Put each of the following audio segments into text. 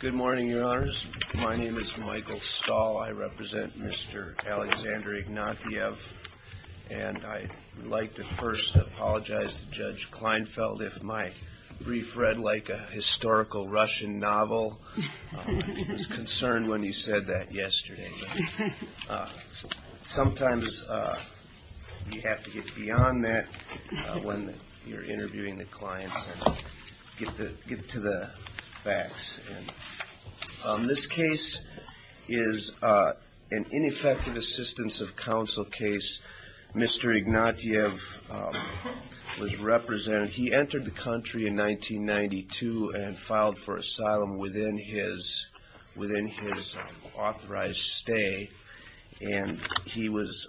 Good morning, Your Honors. My name is Michael Stahl. I represent Mr. Alexander Ignatiev, and I would like to first apologize to Judge Kleinfeld if my brief read like a historical Russian novel. He was concerned when he said that yesterday. Sometimes you have to get to the facts. This case is an ineffective assistance of counsel case. Mr. Ignatiev was represented. He entered the country in 1992 and filed for asylum within his authorized stay, and he was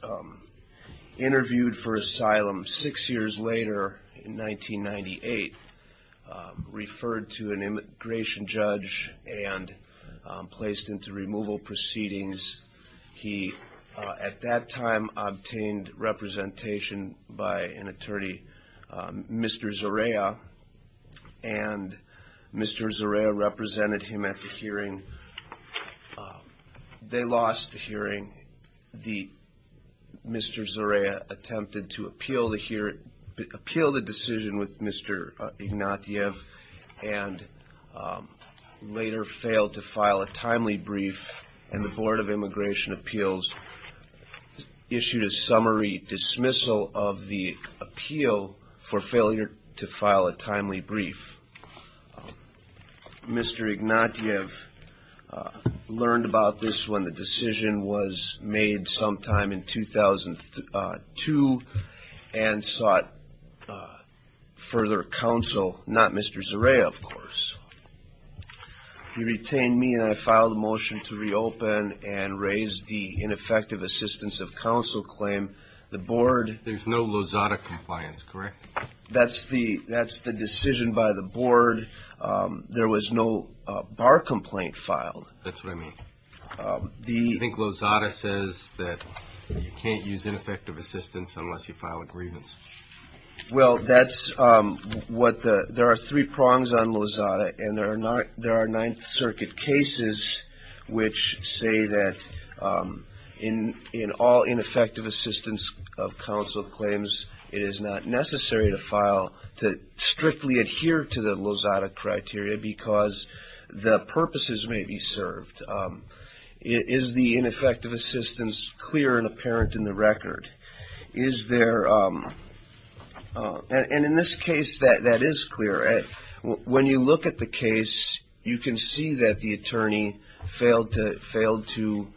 interviewed for asylum six years later in 1998. Reached an agreement and referred to an immigration judge and placed into removal proceedings. He at that time obtained representation by an attorney, Mr. Zareya, and Mr. Zareya represented him at the hearing. They lost the hearing. Mr. Zareya attempted to appeal the decision with Mr. Ignatiev and later failed to file a timely brief, and the Board of Immigration Appeals issued a summary dismissal of the appeal for failure to file a timely brief. Mr. Ignatiev learned about this when the decision was made sometime in 2002 and sought further advice from another counsel, not Mr. Zareya, of course. He retained me and I filed a motion to reopen and raise the ineffective assistance of counsel claim. The Board... There's no Lozada compliance, correct? That's the decision by the Board. There was no bar complaint filed. That's what I mean. I think Lozada says that you can't use ineffective assistance unless you file a grievance. Well, that's what the... There are three prongs on Lozada, and there are Ninth Circuit cases which say that in all ineffective assistance of counsel claims, it is not necessary to file to strictly adhere to the Lozada criteria because the purposes may be served. Is the case... And in this case, that is clear. When you look at the case, you can see that the attorney failed to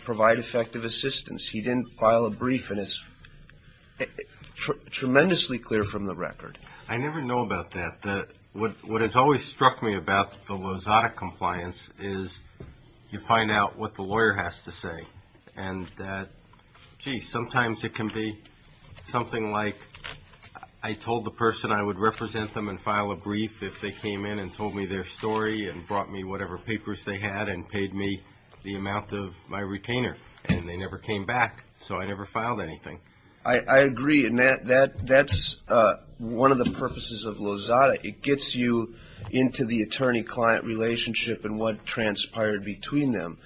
provide effective assistance. He didn't file a brief, and it's tremendously clear from the record. I never know about that. What has always struck me about the Lozada compliance is you find out what the lawyer has to say. Sometimes it can be something like I told the person I would represent them and file a brief if they came in and told me their story and brought me whatever papers they had and paid me the amount of my retainer, and they never came back, so I never filed anything. I agree, and that's one of the purposes of Lozada. It gets you into the attorney-client relationship and what transpired between them.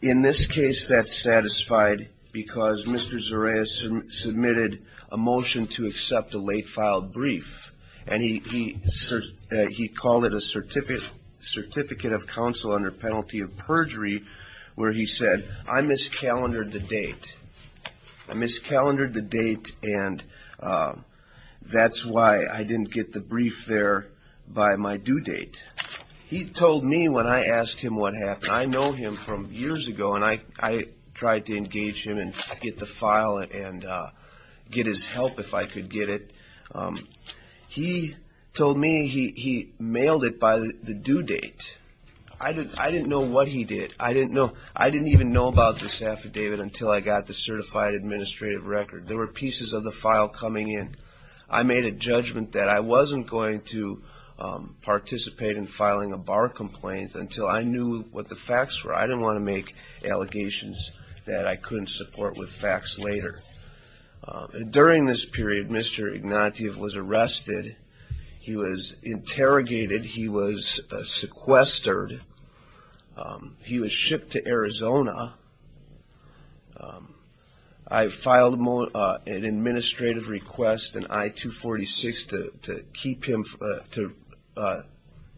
In this case, that's satisfied because Mr. Zoraia submitted a motion to accept a late-filed brief, and he called it a certificate of counsel under penalty of perjury where he said, I miscalendered the date. I miscalendered the due date. He told me when I asked him what happened. I know him from years ago, and I tried to engage him and get the file and get his help if I could get it. He told me he mailed it by the due date. I didn't know what he did. I didn't even know about this affidavit until I got the certified administrative record. There were pieces of the file coming in. I made a judgment that I wasn't going to participate in filing a bar complaint until I knew what the facts were. I didn't want to make allegations that I couldn't support with facts later. During this period, Mr. Ignatieff was arrested. He was interrogated. He was sequestered. He was shipped to Arizona. I filed an administrative request, an I-244 request, and he was sent to I-246 to keep him, to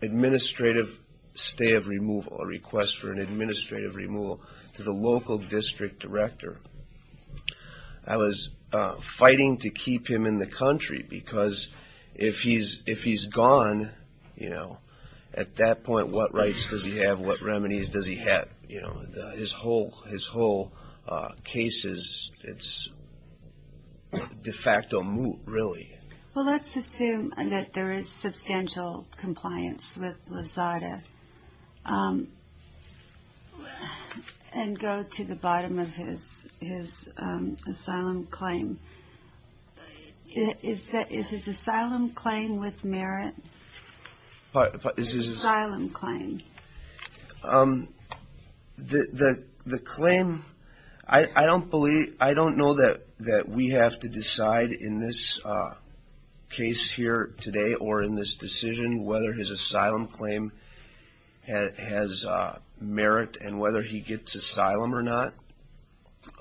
administrative stay of removal, a request for an administrative removal to the local district director. I was fighting to keep him in the country because if he's gone, you know, at that point, what rights does he have? What remedies does he have? His whole case is de facto moot, really. Well, let's assume that there is substantial compliance with Lazada and go to the bottom of his asylum claim. Is his asylum claim with merit? His asylum claim. The claim, I don't believe, I don't know that we have to decide in this case here today or in this decision whether his asylum claim has merit and whether he gets asylum or not.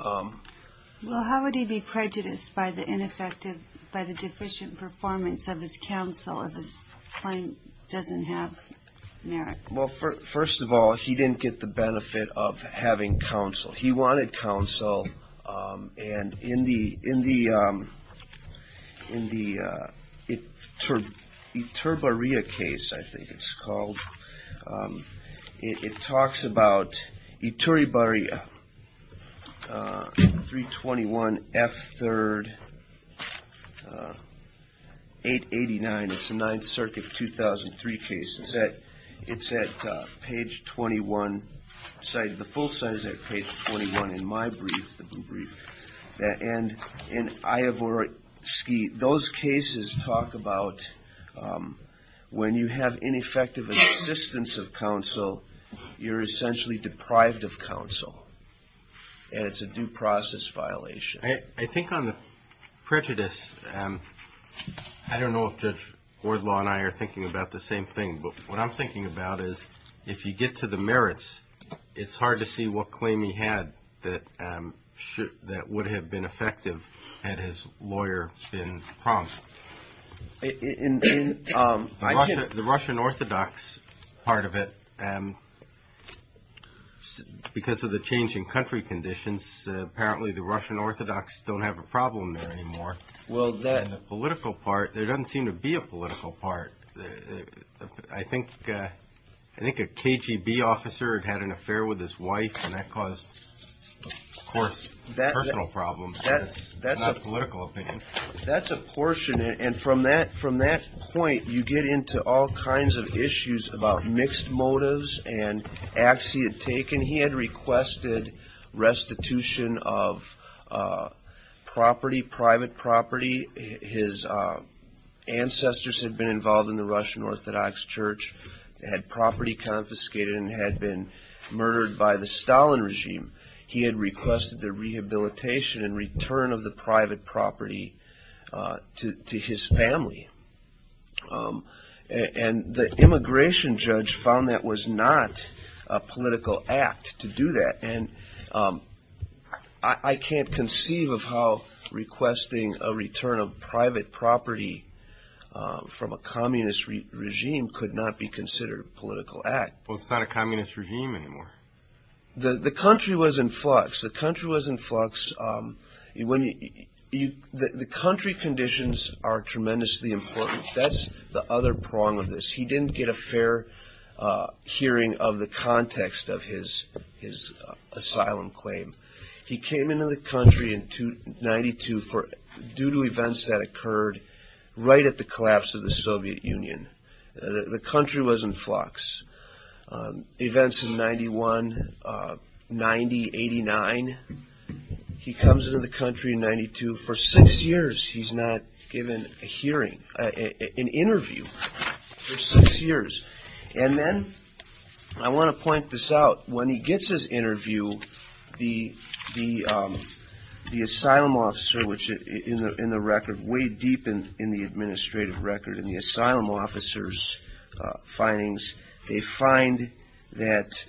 Well, how would he be prejudiced by the ineffective, by the deficient performance of his counsel if his claim doesn't have merit? Well, first of all, he didn't get the benefit of having counsel. He wanted counsel, and in the Ituribarria case, I think it's called, it talks about Ituribarria, 321F3, 889. It's a 9th Circuit, 2003 case. It's at page 21, the full site is at page 21 in my brief, the brief. And in Iavorsky, those cases talk about when you have ineffective assistance of counsel, you're essentially deprived of counsel, and it's a due process violation. I think on the prejudice, I don't know if Judge Gordlaw and I are thinking about the same thing, but what I'm thinking about is if you get to the merits, it's hard to see what claim he had that would have been effective had his lawyer been prompt. The Russian Orthodox part of it, because of the changing country conditions, apparently the Russian Orthodox don't have a problem there anymore. Well, that... And the political part, there doesn't seem to be a political part. I think a KGB officer had an affair with his wife, and that caused, of course, personal problems, not political opinions. That's a portion, and from that point, you get into all kinds of issues about mixed motives and acts he had taken. He had requested restitution of property, private property. His ancestors had been involved in the Russian Orthodox Church, had property confiscated and had been murdered by the Stalin regime. He had requested the rehabilitation and return of the private property to his family. And the immigration judge found that was not a political act to do that, and I can't conceive of how requesting a return of private property from a communist regime could not be considered a political act. Well, it's not a communist regime anymore. The country was in flux. The country was in flux. The country conditions are tremendously important. That's the other prong of this. He didn't get a fair hearing of the context of his asylum claim. He came into the country in 92 due to events that occurred right at the collapse of the Soviet Union. The country was in flux. Events in 91, 90, 89. He comes into the country in 92 for six years. He's not given an interview for six years. And then, I want to point this out, when he gets his interview, the asylum officer, which in the record, way deep in the administrative record, in the asylum officer's findings, they find that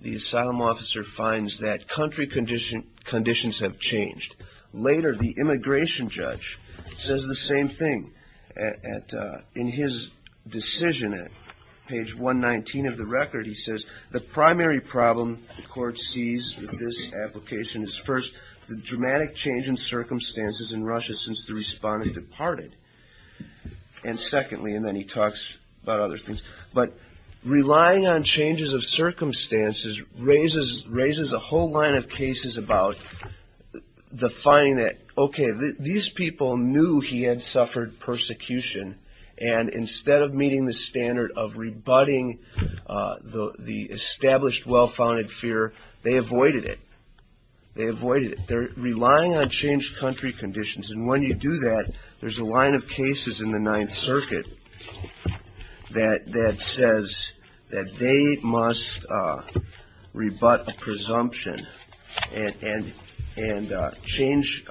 the asylum officer finds that country conditions have changed. Later, the immigration judge says the same thing. In his decision, at page 119 of the record, he says, the primary problem the court sees with this application is first, the dramatic change in circumstances in Russia since the respondent departed, and secondly, and then he talks about other things, but relying on changes of circumstances raises a whole line of cases about the finding that, okay, these people knew he had suffered persecution, and instead of meeting the standard of rebutting the established, well-founded fear, they avoided it. They avoided it. They're relying on changed country conditions, and when you do that, there's a line of cases in the Ninth Circuit that says that they must rebut a presumption, and change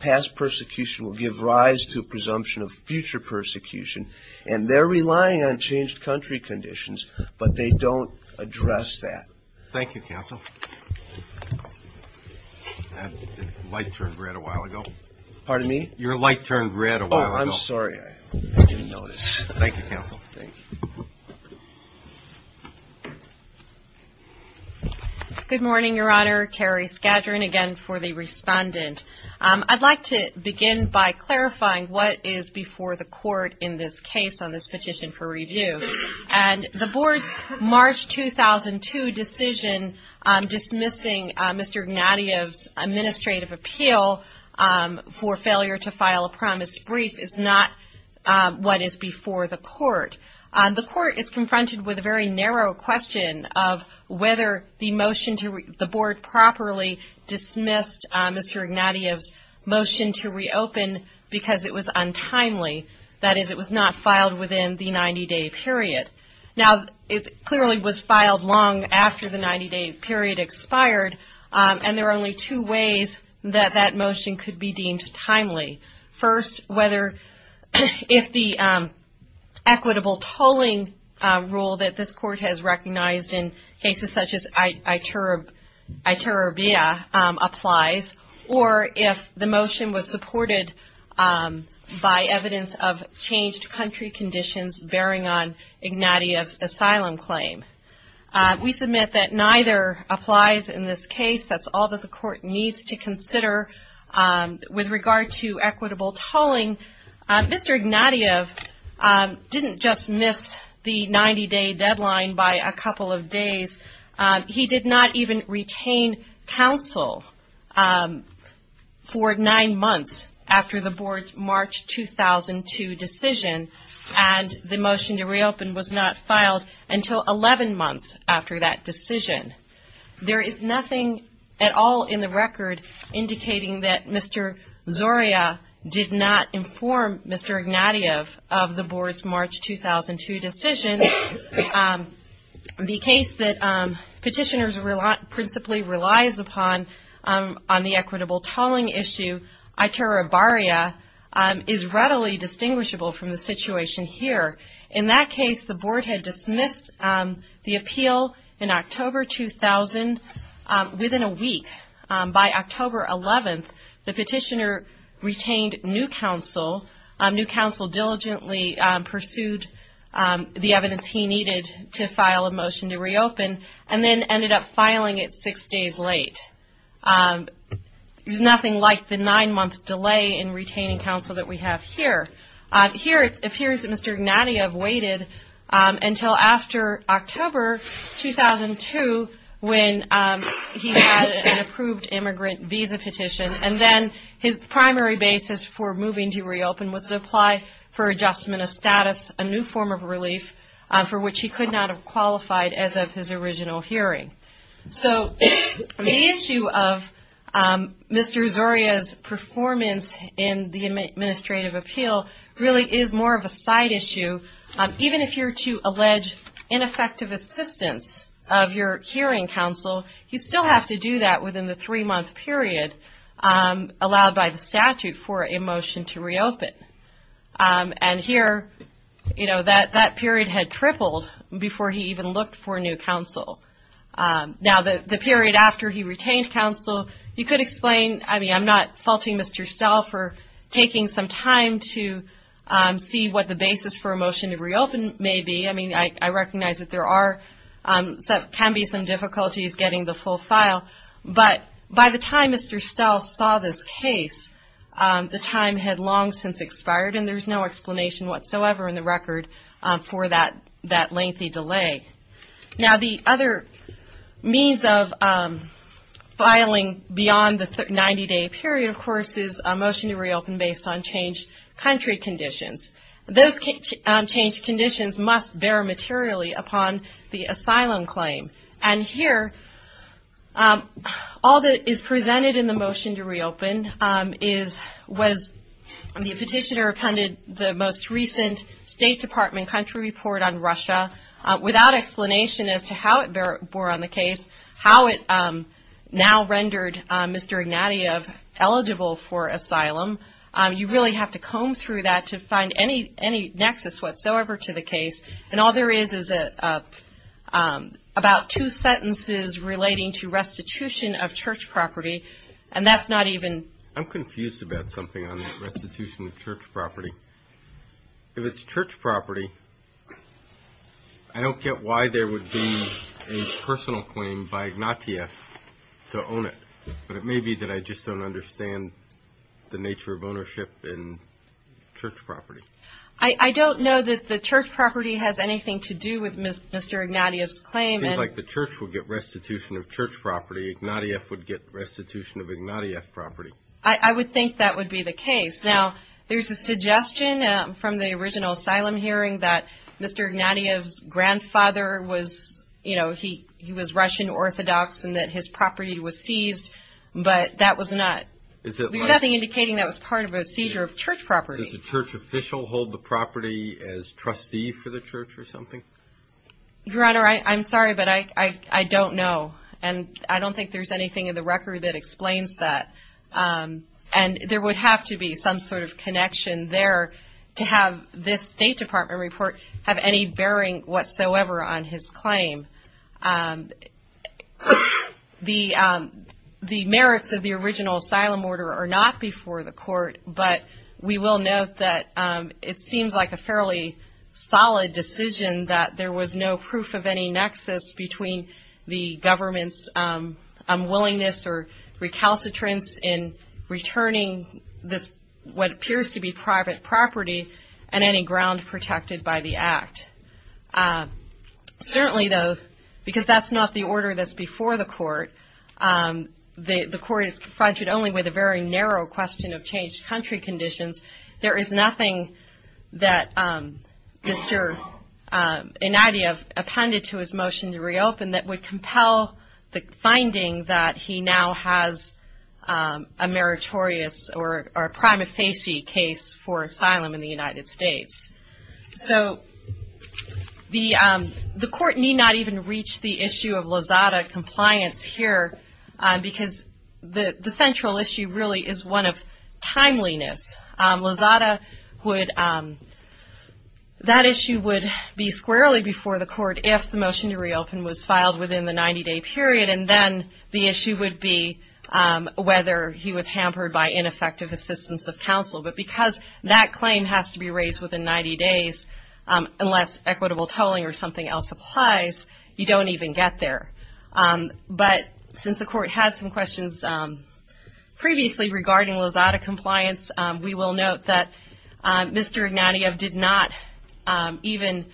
past persecution will give rise to a presumption of future persecution, and they're relying on changed country conditions, but they don't address that. Thank you, counsel. That light turned red a while ago. Pardon me? Your light turned red a while ago. I'm sorry. I didn't notice. Thank you, counsel. Thank you. Good morning, Your Honor. Terry Skadron, again, for the respondent. I'd like to begin by clarifying what is before the Court in this case on this petition for review, and the Board's March 2002 decision dismissing Mr. Gnadiev's administrative appeal for failure to file a promise brief is not what is before the Court. The Court is confronted with a very narrow question of whether the motion to the Board properly dismissed Mr. Gnadiev's motion to reopen because it was untimely, that is, it was not filed within the 90-day period. Now, it clearly was filed long after the 90-day period expired, and there are only two ways that that motion could be deemed timely. First, whether if the equitable tolling rule that this Court has recognized in cases such as Iturribia applies, or if the motion was supported by evidence of changed country conditions bearing on Gnadiev's asylum claim. We submit that with regard to equitable tolling, Mr. Gnadiev didn't just miss the 90-day deadline by a couple of days. He did not even retain counsel for nine months after the Board's March 2002 decision, and the motion to reopen was not filed until 11 months after that decision. There is nothing at all in the record indicating that Mr. Zoria did not inform Mr. Gnadiev of the Board's March 2002 decision. The case that petitioners principally relies upon on the equitable tolling issue, Iturribia, is readily distinguishable from the situation here. In that case, the Board had dismissed the appeal in October 2000 within a week. By October 11th, the petitioner retained new counsel. New counsel diligently pursued the evidence he needed to file a motion to reopen, and then ended up filing it six days late. There's nothing like the nine-month delay in retaining counsel that we have here. Here it appears that Mr. Gnadiev waited until after October 2002 when he had an approved immigrant visa petition, and then his primary basis for moving to reopen was to apply for adjustment of status, a new form of relief for which he could not have qualified as of his original hearing. The issue of Mr. Zoria's performance in the administrative appeal really is more of a side issue. Even if you're to allege ineffective assistance of your hearing counsel, you still have to do that within the three-month period allowed by the statute for a motion to reopen. And here, that period had tripled before he even looked for new counsel. Now the period after he retained counsel, you could explain, I mean I'm not faulting Mr. Stell for taking some time to see what the basis for a motion to reopen may be. I recognize that there can be some difficulties getting the full file, but by the time Mr. Stell saw this case, the time had long since expired and there's no explanation whatsoever in the record for that lengthy delay. Now the other means of filing beyond the 90-day period, of course, is a motion to reopen based on changed country conditions. Those changed conditions must bear materially upon the asylum claim. And here, all that is presented in the motion to reopen was the petitioner appended the most recent State Department country report on Russia without explanation as to how it bore on the case, how it now rendered Mr. Ignatieff eligible for asylum. You really have to comb through that to find any nexus whatsoever to the case. And all there is is about two sentences relating to restitution of church property, and that's not even I'm confused about something on this restitution of church property. If it's church property, I don't get why there would be a personal claim by Ignatieff to own it. But it may be that I just don't understand the nature of ownership in church property. I don't know that the church property has anything to do with Mr. Ignatieff's claim. It seems like the church would get restitution of church property. Ignatieff would get restitution of Ignatieff property. I would think that would be the case. Now, there's a suggestion from the original asylum hearing that Mr. Ignatieff's grandfather was, you know, he was Russian Orthodox and that his property was seized. But that was not, there's nothing indicating that was part of a seizure of church property. Does the church official hold the property as trustee for the church or something? Your Honor, I'm sorry, but I don't know. And I don't think there's anything in the record that explains that. And there would have to be some sort of connection there to have this State Department report have any bearing whatsoever on his claim. The merits of the original asylum order are not before the court, but we will note that it seems like a fairly solid decision that there was no proof of any nexus between the recalcitrance in returning this, what appears to be private property and any ground protected by the act. Certainly though, because that's not the order that's before the court, the court is confronted only with a very narrow question of changed country conditions. There is nothing that Mr. Ignatieff appended to his motion to reopen that would compel the finding that he now has a meritorious or prima facie case for asylum in the United States. So the court need not even reach the issue of Lozada compliance here because the central issue really is one of timeliness. Lozada would, that issue would be squarely before the court if the motion to reopen was filed within the 90 day period and then the issue would be whether he was hampered by ineffective assistance of counsel. But because that claim has to be raised within 90 days, unless equitable tolling or something else applies, you don't even get there. But since the court had some questions previously regarding Lozada compliance, we will note that Mr. Ignatieff did not, even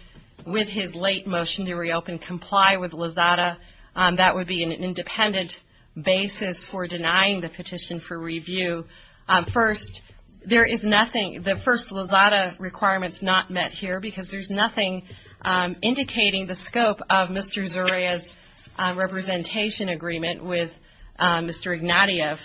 with his late motion to reopen, comply with Lozada. That would be an independent basis for denying the petition for review. First, there is nothing, the first Lozada requirement is not met here because there is nothing indicating the scope of Mr. Zuria's representation agreement with Mr. Ignatieff.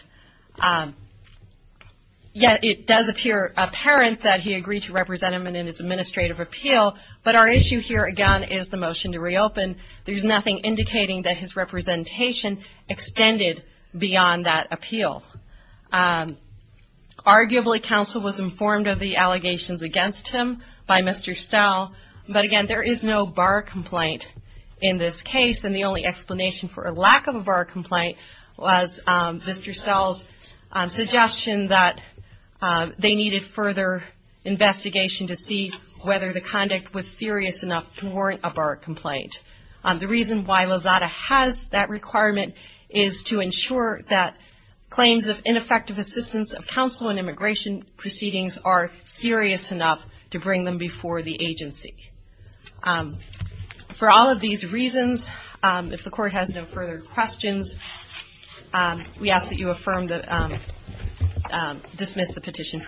Yet it does appear apparent that he agreed to represent him in his administrative appeal, but our issue here again is the motion to reopen, there is nothing indicating that his representation extended beyond that appeal. Arguably counsel was informed of the allegations against him by Mr. Stel, but again there is no bar complaint in this case and the only explanation for a lack of a bar complaint was Mr. Stel's suggestion that they needed further investigation to see whether the conduct was serious enough to warrant a bar complaint. The reason why Lozada has that requirement is to ensure that claims of ineffective assistance of counsel in immigration proceedings are serious enough to bring them before the agency. For all of these reasons, if the court has no further questions, we ask that you affirm the petition.